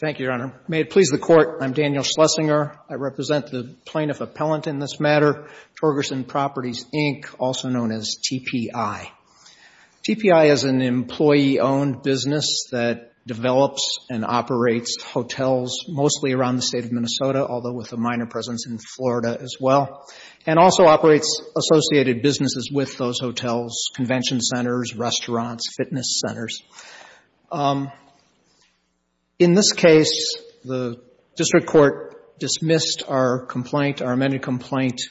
Thank you, Your Honor. May it please the Court, I'm Daniel Schlesinger. I represent the plaintiff appellant in this matter, Torgerson Properties, Inc., also known as TPI. TPI is an employee-owned business that develops and operates hotels mostly around the state of Minnesota, although with a minor presence in Florida as well, and also operates associated businesses with those hotels, convention centers, restaurants, fitness centers. In this case, the district court dismissed our complaint, our amended complaint,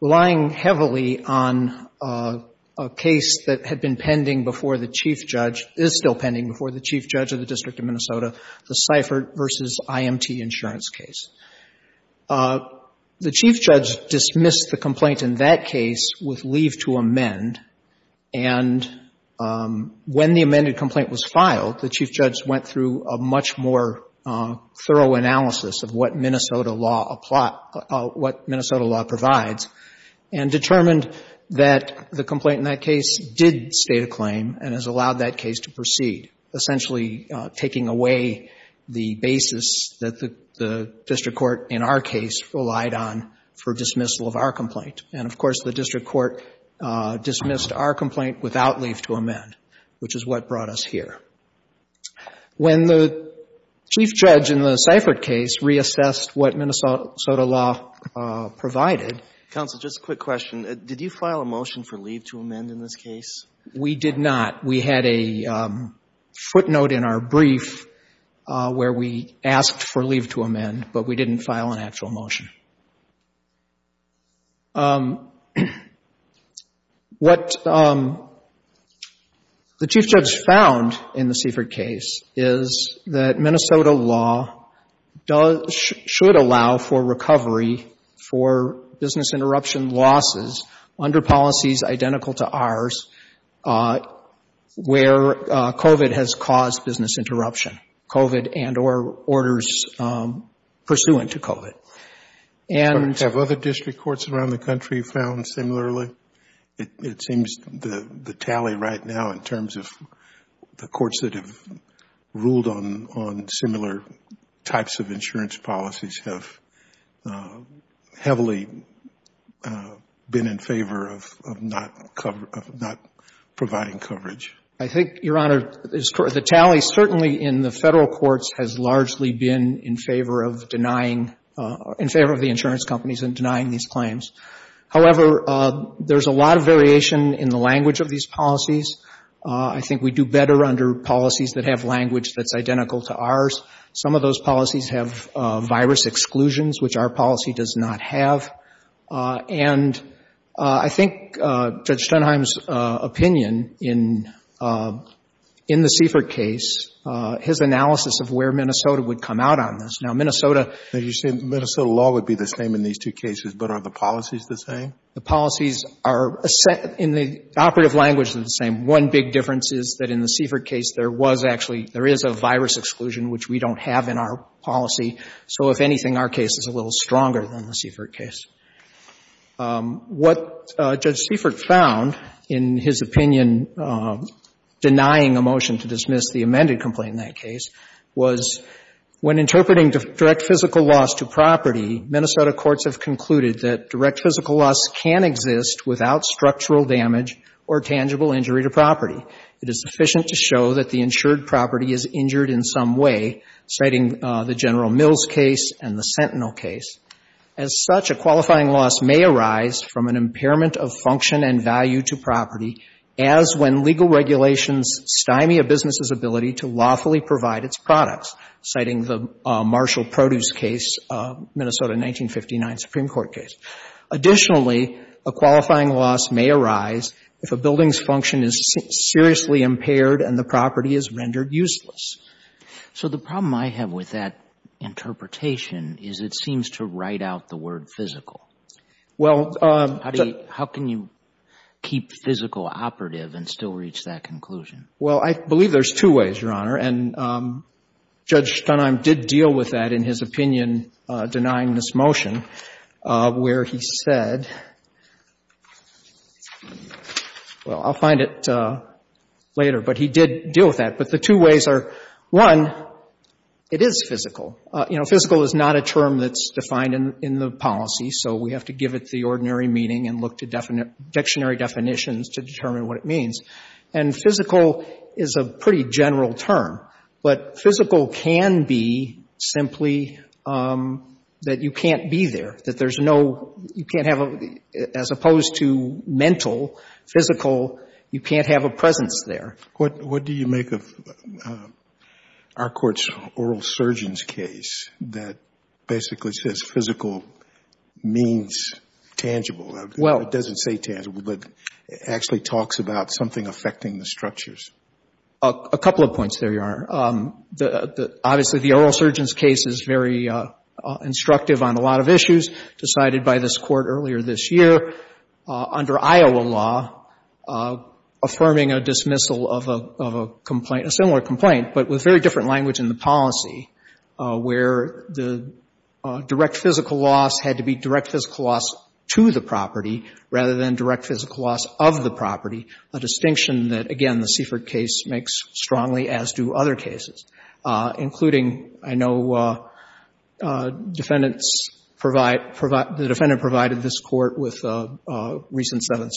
relying heavily on a case that had been pending before the chief judge, is still pending before the chief judge of the District of Minnesota, the Seifert v. IMT insurance case. The chief judge dismissed the complaint. When the amended complaint was filed, the chief judge went through a much more thorough analysis of what Minnesota law provides and determined that the complaint in that case did state a claim and has allowed that case to proceed, essentially taking away the basis that the district court in our case relied on for dismissal of our complaint. And, of course, the district court dismissed our complaint without leave to amend, which is what brought us here. When the chief judge in the Seifert case reassessed what Minnesota law provided Counsel, just a quick question. Did you file a motion for leave to amend in this case? We did not. We had a footnote in our brief where we asked for leave to amend, but we didn't file an actual motion. What the chief judge found in the Seifert case is that Minnesota law should allow for recovery for business interruption losses under policies identical to ours, where COVID has caused business interruption, COVID and or orders pursuant to COVID. Have other district courts around the country found similarly? It seems the tally right now in terms of the courts that have ruled on similar types of insurance policies have heavily been in favor of not providing coverage. I think, Your Honor, the tally certainly in the Federal courts has largely been in favor of denying, in favor of the insurance companies in denying these claims. However, there's a lot of variation in the language of these policies. I think we do better under policies that have language that's identical to ours. Some of those policies have virus exclusions, which our policy does not have. And I think Judge Stenheim's opinion in the Seifert case, his analysis of where Minnesota would come out on this. Now, Minnesota... As you say, Minnesota law would be the same in these two cases, but are the policies the same? The policies are, in the operative language, they're the same. One big difference is that in the Seifert case there was actually, there is a virus exclusion, which we don't have in our policy. So if anything, our case is a little stronger than the Seifert case. What Judge Seifert found in his interpreting direct physical loss to property, Minnesota courts have concluded that direct physical loss can exist without structural damage or tangible injury to property. It is sufficient to show that the insured property is injured in some way, citing the General Mills case and the Sentinel case. As such, a qualifying loss may arise from an impairment of function and value to property as when legal regulations stymie a business' ability to lawfully provide its products, citing the Marshall Produce case, Minnesota 1959 Supreme Court case. Additionally, a qualifying loss may arise if a building's function is seriously impaired and the property is rendered useless. So the problem I have with that interpretation is it seems to write out the word physical. Well... How can you keep physical operative and still reach that conclusion? Well, I believe there's two ways, Your Honor. And Judge Stonheim did deal with that in his opinion denying this motion, where he said, well, I'll find it later, but he did deal with that. But the two ways are, one, it is physical. You know, physical is not a term that's defined in the policy, so we have to give it the ordinary meaning and look to dictionary definitions to determine what it means. And physical is a pretty general term. But physical can be simply that you can't be there, that there's no, you can't have a, as opposed to mental, physical, you can't have a presence there. What do you make of our Court's oral surgeons case that basically says physical means tangible? It doesn't say tangible, but it actually talks about something affecting the structures. A couple of points there, Your Honor. Obviously, the oral surgeons case is very instructive on a lot of issues decided by this Court earlier this year under Iowa law, affirming a dismissal of a complaint, a similar complaint, but with very simple distinction. Direct physical loss had to be direct physical loss to the property rather than direct physical loss of the property, a distinction that, again, the Seifert case makes strongly, as do other cases, including, I know defendants provide, the defendant provided this Court with a recent Seventh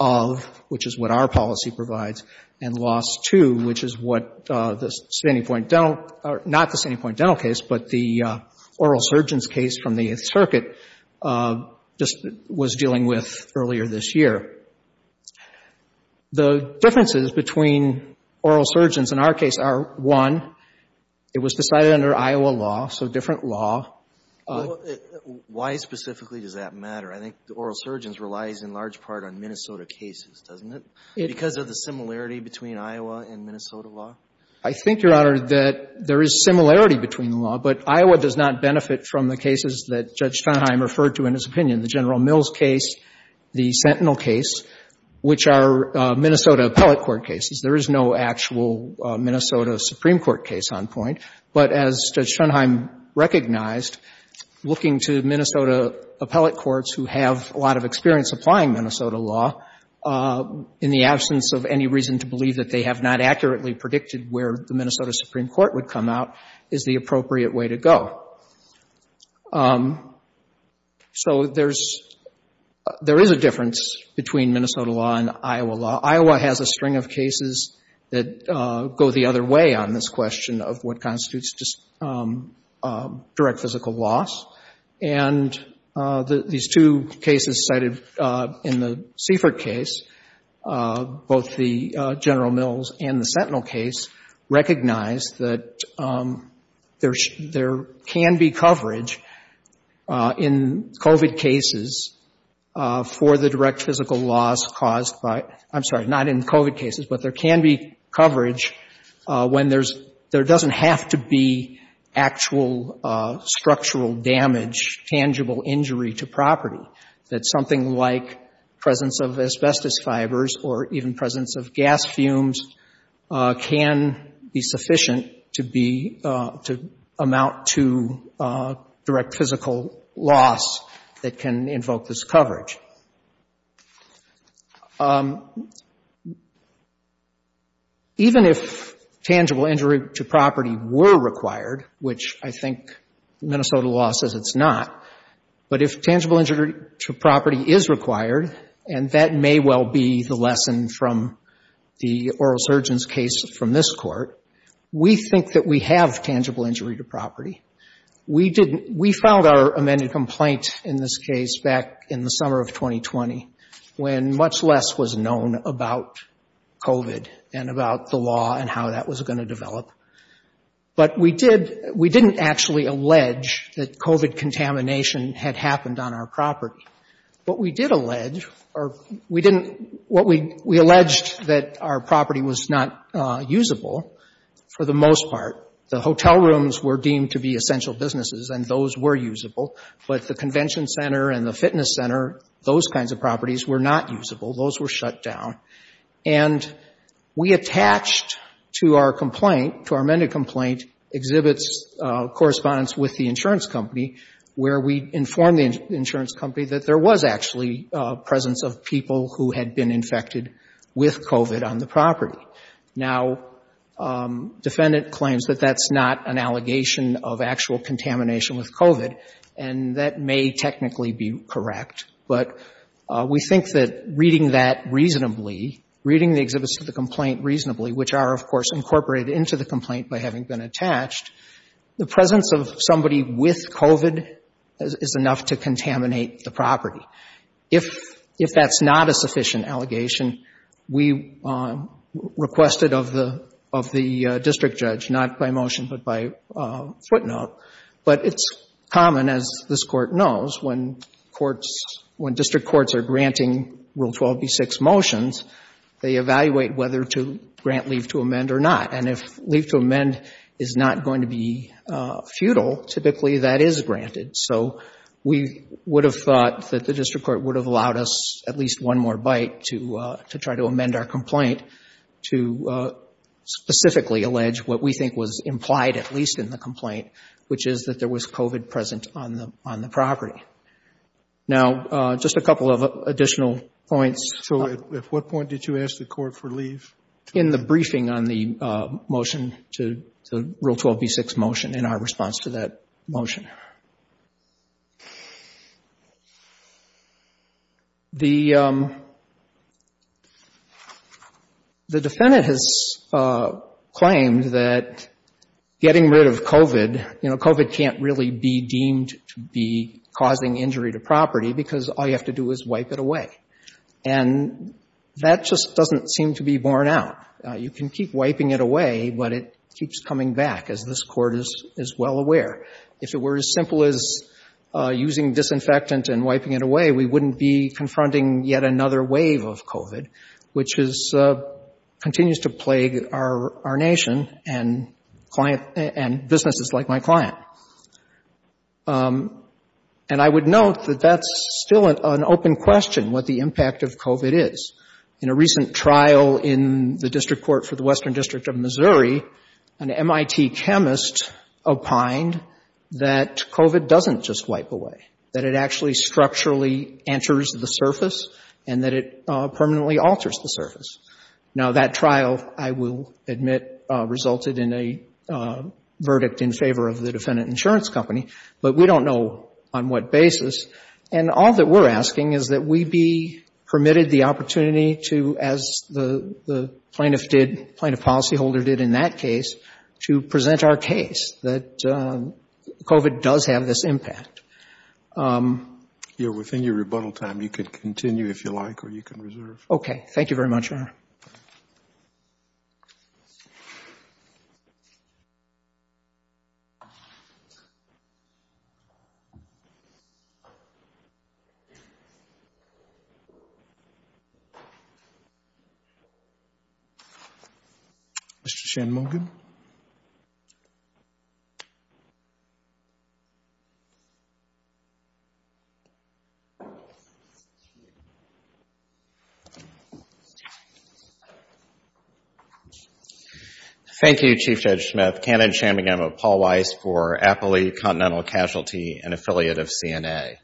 of, which is what our policy provides, and loss to, which is what the standing point dental, or not the standing point dental case, but the oral surgeons case from the Eighth Circuit just was dealing with earlier this year. The differences between oral surgeons in our case are, one, it was decided under Iowa law, so different law. Well, why specifically does that matter? I think the oral surgeons relies in large part on Minnesota cases, doesn't it, because of the similarity between Iowa and Minnesota law? I think, Your Honor, that there is similarity between the law, but Iowa does not benefit from the cases that Judge Fenheim referred to in his opinion, the General Mills case, the Sentinel case, which are Minnesota appellate court cases. There is no actual Minnesota Supreme Court case on point, but as Judge Fenheim recognized, looking to Minnesota appellate courts who have a lot of experience applying Minnesota law, in the absence of any reason to believe that they have not accurately predicted where the Minnesota Supreme Court would come out, is the appropriate way to go. So there is a difference between Minnesota law and Iowa law. Iowa has a string of cases that go the other way on this question of what constitutes direct physical loss, and these two cases cited in the Seifert case, both the General Mills and the Minnesota Supreme Court, there can be coverage in COVID cases for the direct physical loss caused by, I'm sorry, not in COVID cases, but there can be coverage when there's, there doesn't have to be actual structural damage, tangible injury to property, that something like presence of asbestos fibers or even presence of direct physical loss that can invoke this coverage. Even if tangible injury to property were required, which I think Minnesota law says it's not, but if tangible injury to property is required, and that may well be the lesson from the oral surgeon's case from this court, we think that we have tangible injury to property. We didn't, we filed our amended complaint in this case back in the summer of 2020, when much less was known about COVID and about the law and how that was going to develop. But we did, we didn't actually allege that COVID contamination had happened on our property. But we did allege, or we didn't, what we, we alleged that our property was not usable for the most part. The hotel rooms were deemed to be essential businesses, and those were usable. But the convention center and the fitness center, those kinds of properties were not usable. Those were shut down. And we attached to our complaint, to our amended complaint, exhibits, correspondence with the insurance company, where we informed the insurance company that there was actually a presence of people who had been infected with COVID on the property. Now, defendant claims that that's not an allegation of actual contamination with COVID, and that may technically be correct. But we think that reading that somebody with COVID is enough to contaminate the property. If that's not a sufficient allegation, we requested of the district judge, not by motion, but by footnote. But it's common, as this Court knows, when courts, when district courts are granting Rule 12b6 motions, they evaluate whether to grant leave to amend or not. And if leave to amend is not going to be futile, typically that is granted. So we would have thought that the district court would have allowed us at least one more bite to try to amend our complaint to specifically allege what we think was implied, at least in the complaint, which is that there was COVID present on the property. Now, just a couple of additional points. So at what point did you ask the court for leave? In the briefing on the motion to Rule 12b6 motion and our response to that motion. The defendant has claimed that getting rid of COVID, you know, causing injury to property, because all you have to do is wipe it away. And that just doesn't seem to be borne out. You can keep wiping it away, but it keeps coming back, as this Court is well aware. If it were as simple as using disinfectant and wiping it away, we wouldn't be confronting yet another wave of COVID, which continues to plague our nation and client, and businesses like my client. And I would note that that's still an open question, what the impact of COVID is. In a recent trial in the district court for the Western District of Missouri, an MIT chemist opined that COVID doesn't just wipe away, that it actually structurally enters the surface and that it permanently alters the surface. Now, that trial, I will admit, resulted in a verdict in favor of the defendant insurance company. But we don't know on what basis. And all that we're asking is that we be permitted the opportunity to, as the plaintiff did, plaintiff policyholder did in that case, to present our case that COVID does have this impact. Within your rebuttal time, you can continue if you like, or you can reserve. Okay. Thank you very much. Mr. Shanmugam? Thank you, Chief Judge Smith. Canon Shanmugam of Paul Weiss for Appley Continental Casualty, an affiliate of CNA.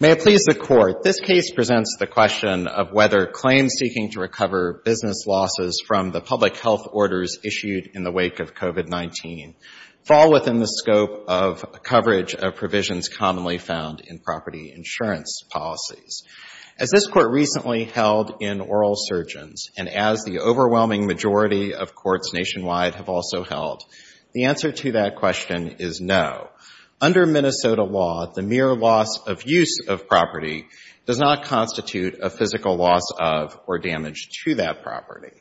May it please the Court, this case presents the question of whether claims seeking to recover business losses from the public health orders issued in the wake of COVID-19 fall within the scope of coverage of provisions commonly found in property insurance policies. As this Court recently held in oral surgeons, and as the overwhelming majority of courts nationwide have also held, the answer to that question is no. Under Minnesota law, the mere loss of use of property does not constitute a physical loss of or damage to that property.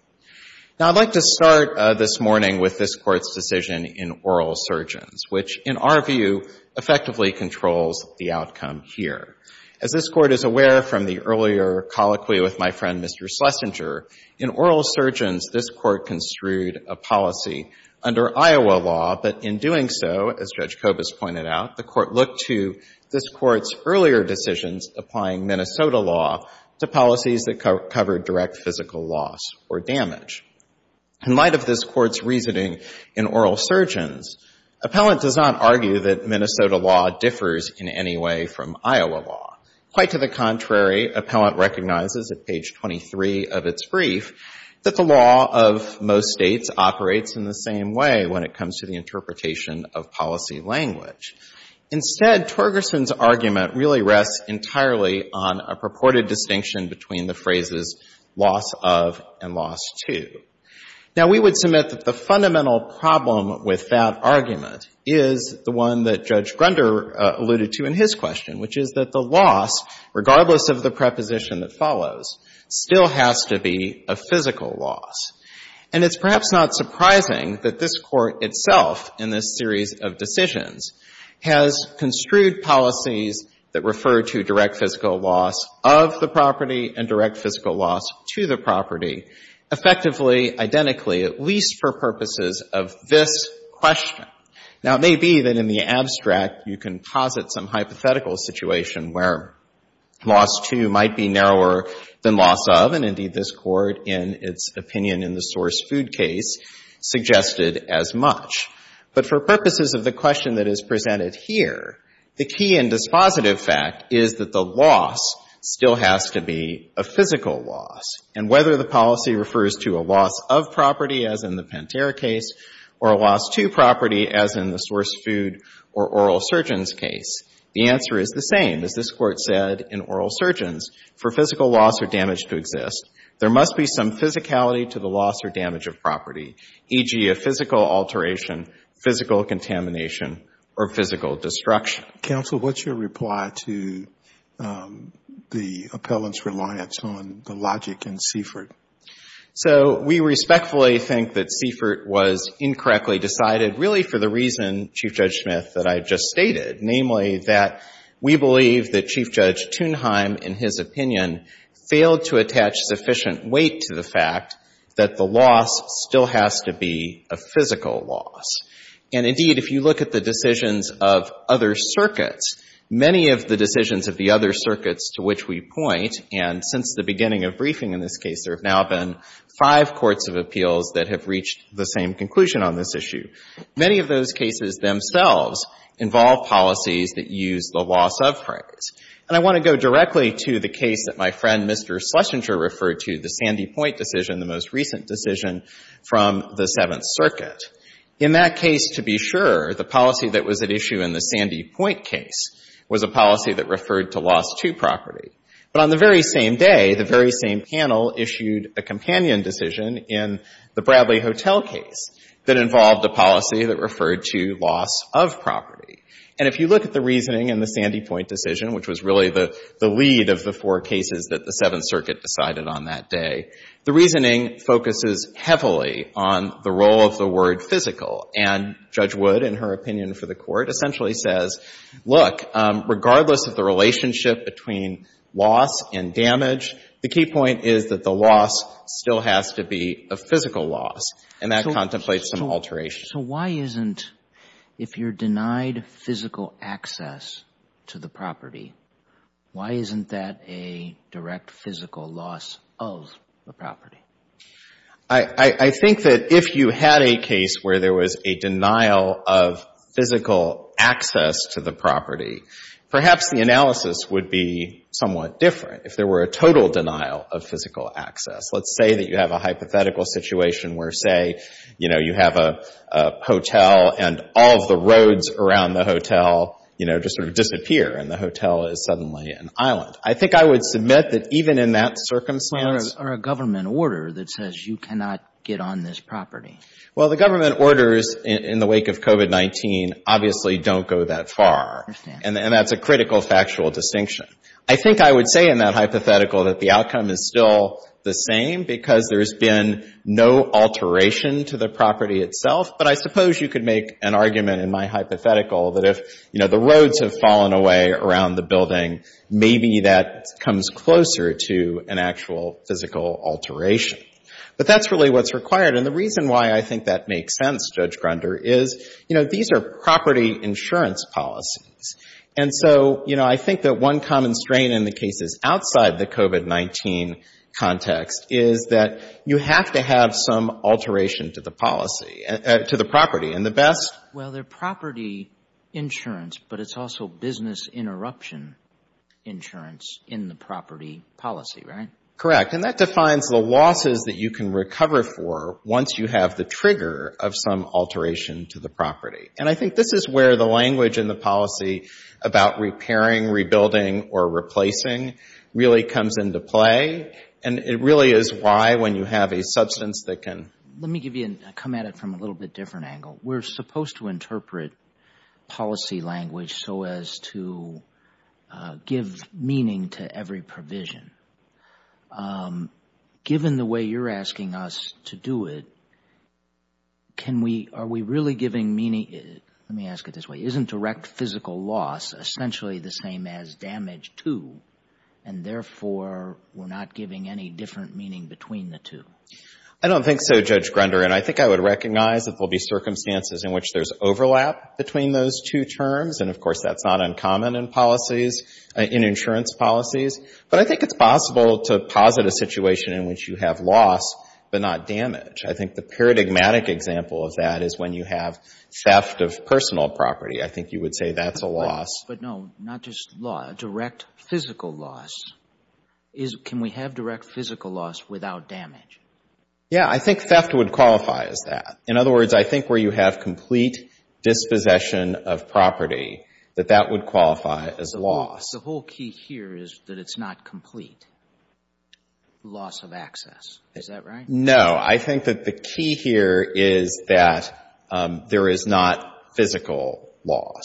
Now, I'd like to start this morning with this Court's decision in oral surgeons, which, in our view, effectively controls the outcome here. As this Court is aware from the earlier colloquy with my friend, Mr. Schlesinger, in oral surgeons, this Court construed a policy under Iowa law, but in doing so, as Judge Kobus pointed out, the Court looked to this Court's earlier decisions applying Minnesota law to policies that cover direct physical loss or damage. In light of this Court's reasoning in oral surgeons, appellant does not argue that Minnesota law differs in any way from Iowa law. Quite to the contrary, appellant recognizes at page 23 of its brief that the law of most states operates in the same way when it comes to the interpretation of policy language. Instead, Torgerson's argument really rests entirely on a purported distinction between the phrases loss of and loss to. Now, we would submit that the fundamental problem with that argument is the one that Judge Grunder alluded to in his question, which is that the loss, regardless of the preposition that follows, still has to be of physical loss. And it's perhaps not surprising that this Court itself in this series of decisions has construed policies that refer to direct physical loss of the property and direct physical loss to the property effectively, identically, at least for purposes of this question. Now, it may be that in the abstract you can posit some hypothetical situation where loss to might be narrower than loss of, and indeed this Court in its opinion in the source food case suggested as much. But for purposes of the question that is presented here, the key and dispositive fact is that the loss still has to be a physical loss. And whether the policy refers to a loss of property, as in the Pantera case, or a loss to property, as in the source food or oral surgeons case, the answer is the same, as this Court said in oral surgeons, for physical loss or damage to exist. There must be some physicality to the loss or damage of property, e.g., a physical alteration, physical contamination, or physical destruction. Counsel, what's your reply to the appellant's reliance on the logic in Seifert? So we respectfully think that Seifert was incorrectly decided really for the reason, Chief Judge Smith, that I just stated, namely that we believe that Chief Judge Thunheim in his opinion failed to attach sufficient weight to the fact that the loss still has to be a physical loss. And indeed, if you look at the decisions of other circuits, many of the decisions of the other circuits to which we point, and since the beginning of briefing in this case, there have now been five courts of appeals that have reached the same conclusion on this issue, many of those cases themselves involve policies that use the loss of phrase. And I want to go directly to the case that my friend, Mr. Schlesinger, referred to, the Sandy Point decision, the most recent decision from the Seventh Circuit. In that case, to be sure, the policy that was at issue in the Sandy Point case was a policy that referred to loss to property. But on the very same day, the very same panel issued a companion decision in the Bradley Hotel case that involved a policy that referred to loss of property. And if you look at the reasoning in the Sandy Point decision, which was really the lead of the four cases that the Seventh Circuit decided on that day, the reasoning focuses heavily on the role of the word physical. And Judge Wood, in her opinion for the Court, essentially says, look, regardless of the relationship between loss and damage, the key point is that the loss still has to be a physical loss, and that contemplates some alteration. So why isn't, if you're denied physical access to the property, why isn't that a direct physical loss of the property? I think that if you had a case where there was a denial of physical access to the property, perhaps the analysis would be somewhat different. If there were a total denial of physical access, let's say that you have a hypothetical situation where, say, you know, you have a hotel and all of the roads around the hotel, you know, just sort of disappear and the hotel is suddenly an island. I think I would submit that even in that circumstance Or a government order that says you cannot get on this property. Well, the government orders in the wake of COVID-19 obviously don't go that far. And that's a critical factual distinction. I think I would say in that hypothetical that the outcome is still the same because there's been no alteration to the property itself. But I suppose you could make an argument in my hypothetical that if, you know, the roads have fallen away around the building, maybe that comes closer to an actual physical alteration. But that's really what's required. And the reason why I think that makes sense, Judge Grunder, is, you know, these are property insurance policies. And so, you know, I think that one common strain in the cases outside the COVID-19 context is that you have to have some alteration to the policy, to the property. And the best... Well, they're property insurance, but it's also business interruption insurance in the property policy, right? Correct. And that defines the losses that you can recover for once you have the trigger of some alteration to the property. And I think this is where the language in the policy about repairing, rebuilding, or replacing really comes into play. And it really is why, when you have a substance that can... Let me come at it from a little bit different angle. We're supposed to interpret policy language so as to give meaning to every provision. Given the way you're asking us to do it, are we really giving meaning... Let me ask it this way. Isn't direct physical loss essentially the same as damage too? And therefore, we're not giving any different meaning between the two? I don't think so, Judge Grunder. And I think I would recognize that there will be circumstances in which there's overlap between those two terms. And, of course, that's not uncommon in policies, in insurance policies. But I think it's possible to posit a situation in which you have loss, but not damage. I think the paradigmatic example of that is when you have theft of personal property. I think you would say that's a loss. But no, not just loss, direct physical loss. Can we have direct physical loss without damage? Yeah, I think theft would qualify as that. In other words, I think where you have complete dispossession of property, that that would qualify as loss. The whole key here is that it's not complete loss of access. Is that right? No. I think that the key here is that there is not physical loss,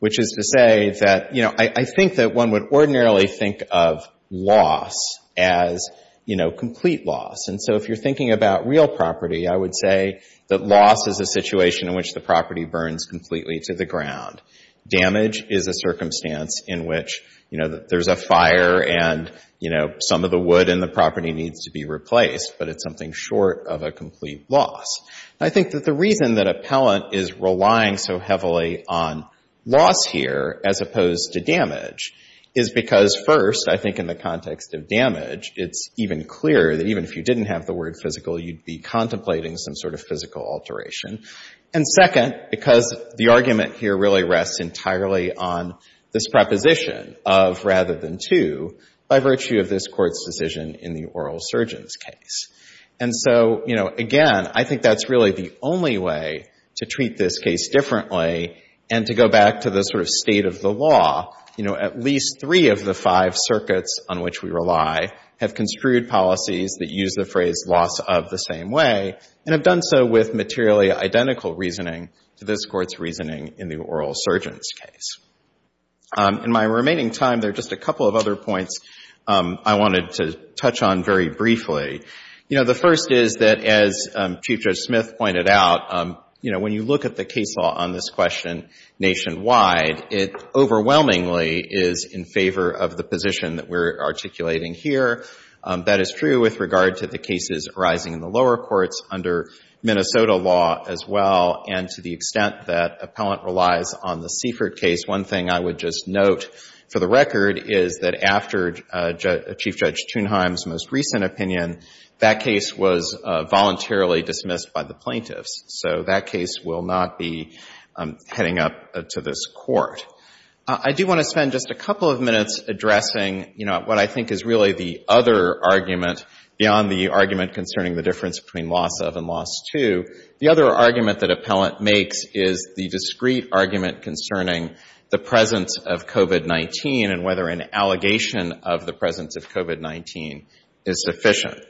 which is to say that, you know, I think that one would ordinarily think of loss as, you know, complete loss. And so if you're thinking about real property, I would say that loss is a situation in which the property burns completely to the ground. Damage is a circumstance in which, you know, there's a fire and, you know, some of the wood in the property needs to be replaced, but it's something short of a complete loss. And I think that the reason that Appellant is relying so heavily on loss here as opposed to damage is because, first, I think in the context of damage, it's even clearer that even if you didn't have the word physical, you'd be contemplating some sort of physical alteration. And second, because the argument here really rests entirely on this preposition of rather than to by virtue of this Court's decision in the oral surgeon's case. And so, you know, again, I think that's really the only way to treat this case differently and to go back to the sort of state of the law. You know, at least three of the five circuits on which we rely have construed policies that use the phrase loss of the same way and have done so with materially identical reasoning to this Court's reasoning in the oral surgeon's case. In my remaining time, there are just a couple of other points I wanted to touch on very briefly. You know, the first is that, as Chief Judge Smith pointed out, you know, when you look at the case law on this question nationwide, it overwhelmingly is in favor of the position that we're articulating here. That is true with regard to the cases arising in the lower courts under Minnesota law as well and to the extent that Appellant relies on the Seifert case, one thing I would just note for the record is that after Chief Judge Thunheim's most recent opinion, that case was voluntarily dismissed by the plaintiffs. So that case will not be heading up to this Court. I do want to spend just a couple of minutes addressing, you know, what I think is really the other argument beyond the argument concerning the difference between loss of and loss to. The other argument that Appellant makes is the discrete argument concerning the presence of COVID-19 and whether an allegation of the presence of COVID-19 is sufficient.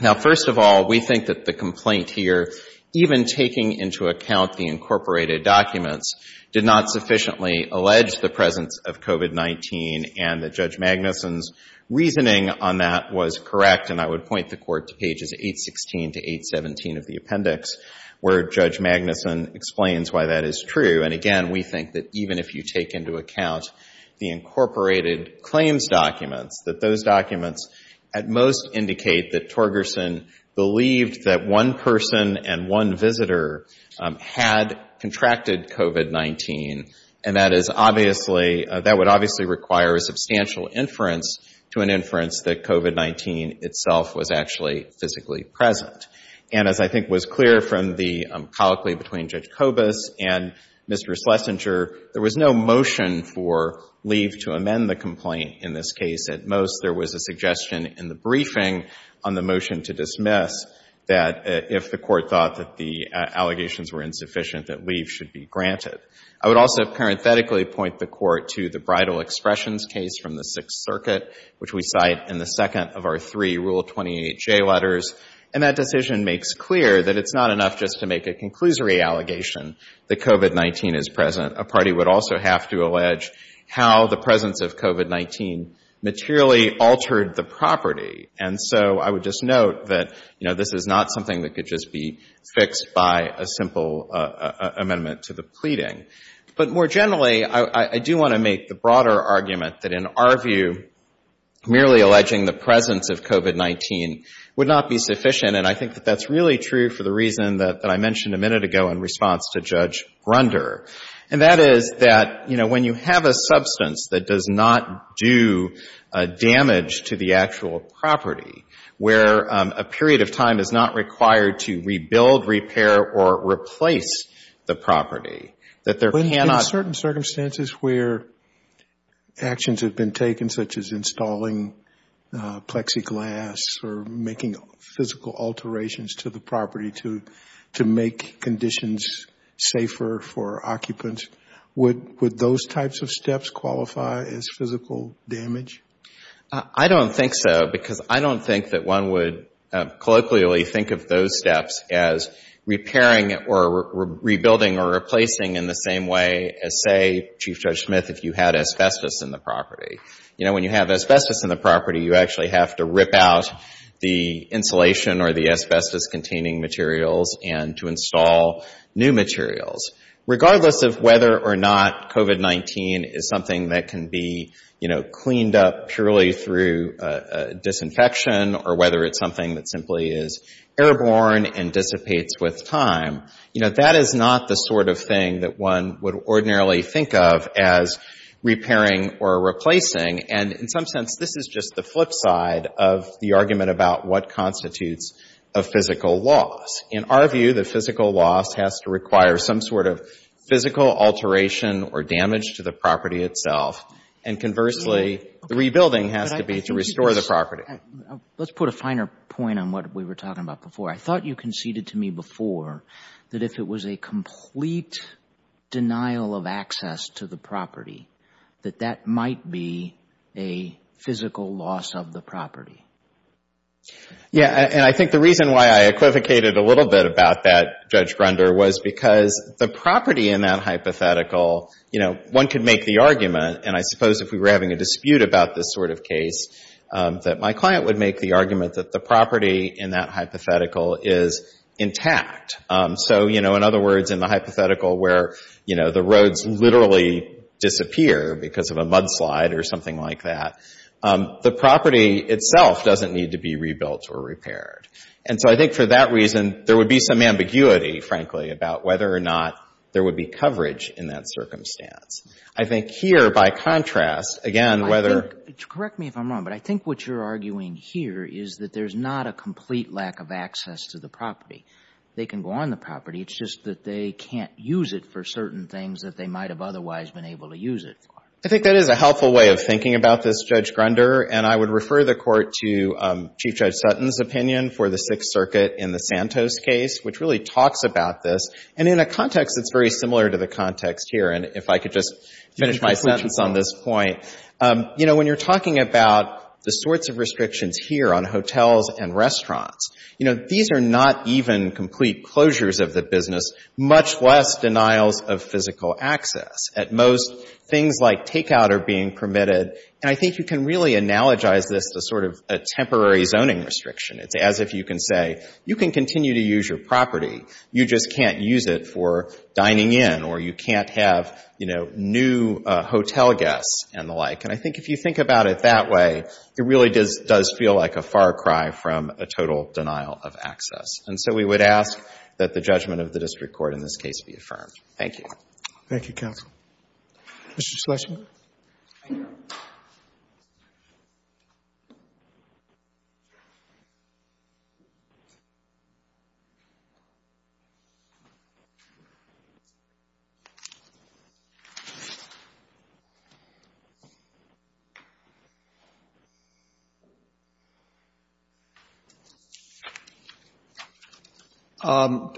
Now, first of all, we think that the complaint here, even taking into account the incorporated documents, did not sufficiently allege the presence of COVID-19 and that Judge Magnuson's reasoning on that was correct, and I would point the Court to pages 816 to 817 of the appendix, where Judge Magnuson explains why that is true. And again, we think that even if you take into account the incorporated claims documents, that those documents at most indicate that Torgerson believed that one person and one visitor had contracted COVID-19, and that is obviously, that would obviously require a substantial inference to an inference that COVID-19 itself was actually physically present. And as I think was clear from the colloquy between Judge Kobus and Mr. Schlesinger, there was no motion for leave to amend the complaint in this case. At most, there was a suggestion in the briefing on the motion to dismiss that if the Court thought that the allegations were contrary to the Federal Expressions case from the Sixth Circuit, which we cite in the second of our three Rule 28J letters, and that decision makes clear that it's not enough just to make a conclusory allegation that COVID-19 is present. A party would also have to allege how the presence of COVID-19 materially altered the property. And so I would just note that, you know, this is not something that could just be fixed by a simple amendment to the pleading. But more generally, I do want to make the broader argument that in our view, merely alleging the presence of COVID-19 would not be sufficient. And I think that that's really true for the reason that I mentioned a minute ago in response to Judge Grunder, and that is that, you know, when you have a substance that does not do damage to the actual property, where a period of time is not required to rebuild, repair, or replace the property, that there cannot... In certain circumstances where actions have been taken, such as installing plexiglass or making physical alterations to the property to make conditions safer for occupants, would those types of steps qualify as colloquially think of those steps as repairing or rebuilding or replacing in the same way as, say, Chief Judge Smith, if you had asbestos in the property. You know, when you have asbestos in the property, you actually have to rip out the insulation or the asbestos-containing materials and to install new materials. Regardless of whether or not COVID-19 is something that can be, you know, cleaned up purely through disinfection or whether it's something that simply is airborne and dissipates with time, you know, that is not the sort of thing that one would ordinarily think of as repairing or replacing. And in some sense, this is just the flip side of the argument about what constitutes a physical loss. In our view, the physical loss has to require some sort of reimbursement, and conversely, the rebuilding has to be to restore the property. Let's put a finer point on what we were talking about before. I thought you conceded to me before that if it was a complete denial of access to the property, that that might be a physical loss of the property. Yeah. And I think the reason why I equivocated a little bit about that, Judge Grunder, was because the property in that hypothetical, you know, one could make the argument, and I suppose if we were having a dispute about this sort of case, that my client would make the argument that the property in that hypothetical is intact. So, you know, in other words, in the hypothetical where, you know, the roads literally disappear because of a mudslide or something like that, the property itself doesn't need to be rebuilt. And so, you know, I think there's a lot of controversy about whether or not there would be coverage in that circumstance. I think here, by contrast, again, whether... Correct me if I'm wrong, but I think what you're arguing here is that there's not a complete lack of access to the property. They can go on the property. It's just that they can't use it for certain things that they might have otherwise been able to use it for. I think that is a helpful way of thinking about this, Judge Grunder, and I would refer the Court to Chief Judge Sutton's opinion for the Sixth Circuit in the Santos case, which really talks about this. And in a context that's very similar to the context here, and if I could just finish my sentence on this point, you know, when you're talking about the sorts of restrictions here on hotels and restaurants, you know, these are not even complete closures of the business, much less denials of physical access. At most, things like temporary zoning restriction. It's as if you can say, you can continue to use your property. You just can't use it for dining in or you can't have, you know, new hotel guests and the like. And I think if you think about it that way, it really does feel like a far cry from a total denial of access. And so we would ask that the judgment of the district court in this case be affirmed. Thank you. Thank you, counsel. Mr. Schlesinger. Thank you.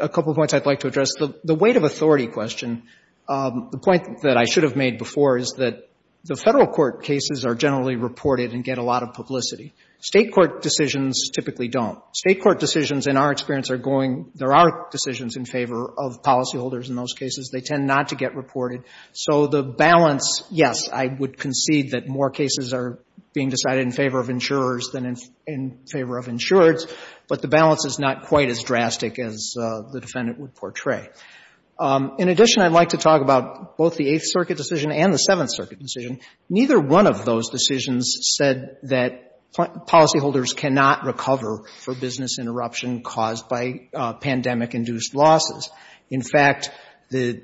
A couple points I'd like to address. The weight of authority question, the point that I should have made before is that the federal court cases are generally reported and get a lot of publicity. State court decisions typically don't. State court decisions, in our experience, are going, there are decisions in favor of policyholders in those cases. They tend not to get reported. So the balance, yes, I would concede that more cases are being decided in favor of insurers than in favor of insureds, but the balance is not quite as drastic as the defendant would portray. In addition, I'd like to talk about both the Eighth Circuit decision and the Seventh Circuit decision. Neither one of those decisions said that policyholders cannot recover for business interruption caused by pandemic-induced losses. In fact, this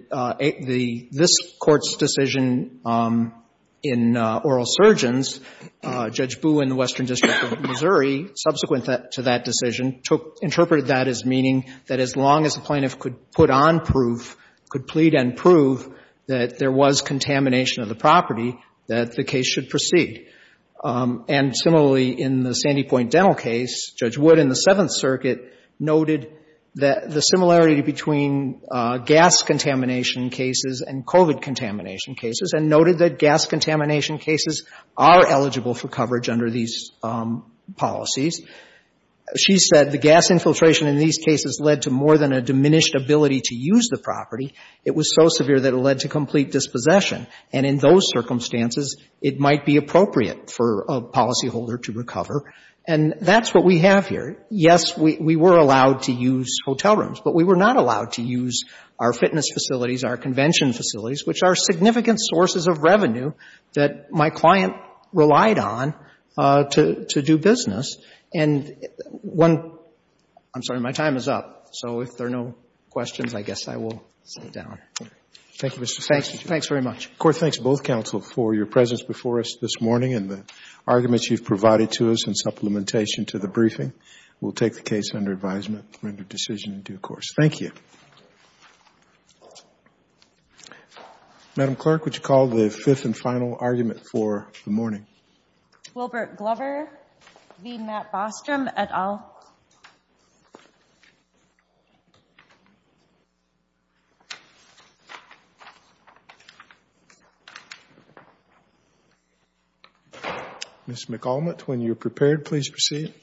Court's decision in oral surgeons, Judge Boo in the Western District of Missouri, subsequent to that decision, interpreted that as meaning that as long as the plaintiff could put on proof, could plead and prove that there was contamination of the property, that the case should proceed. And similarly, in the Sandy Point Dental case, Judge Wood in the Seventh Circuit noted the similarity between gas contamination cases and COVID contamination cases and noted that gas contamination cases are eligible for coverage under these policies. She said the gas infiltration in these cases led to more than a diminished ability to use the property. It was so severe that it led to complete dispossession. And in those circumstances, it might be appropriate for a policyholder to recover. And that's what we have here. Yes, we were allowed to use hotel rooms, but we were not allowed to use our fitness facilities, our convention facilities, which are significant sources of revenue that my client relied on to do business. And one — I'm sorry, my time is up. So if there are no questions, I guess I will sit down. Thank you, Mr. Chief Justice. Thanks very much. The Court thanks both counsel for your presence before us this morning and the arguments you've provided to us in supplementation to the briefing. We'll take the case under advisement to render decision in due course. Thank you. Madam Clerk, would you call the fifth and final argument for the morning? Wilbert Glover v. Matt Bostrom et al. Ms. McAlmitt, when you're prepared, please proceed.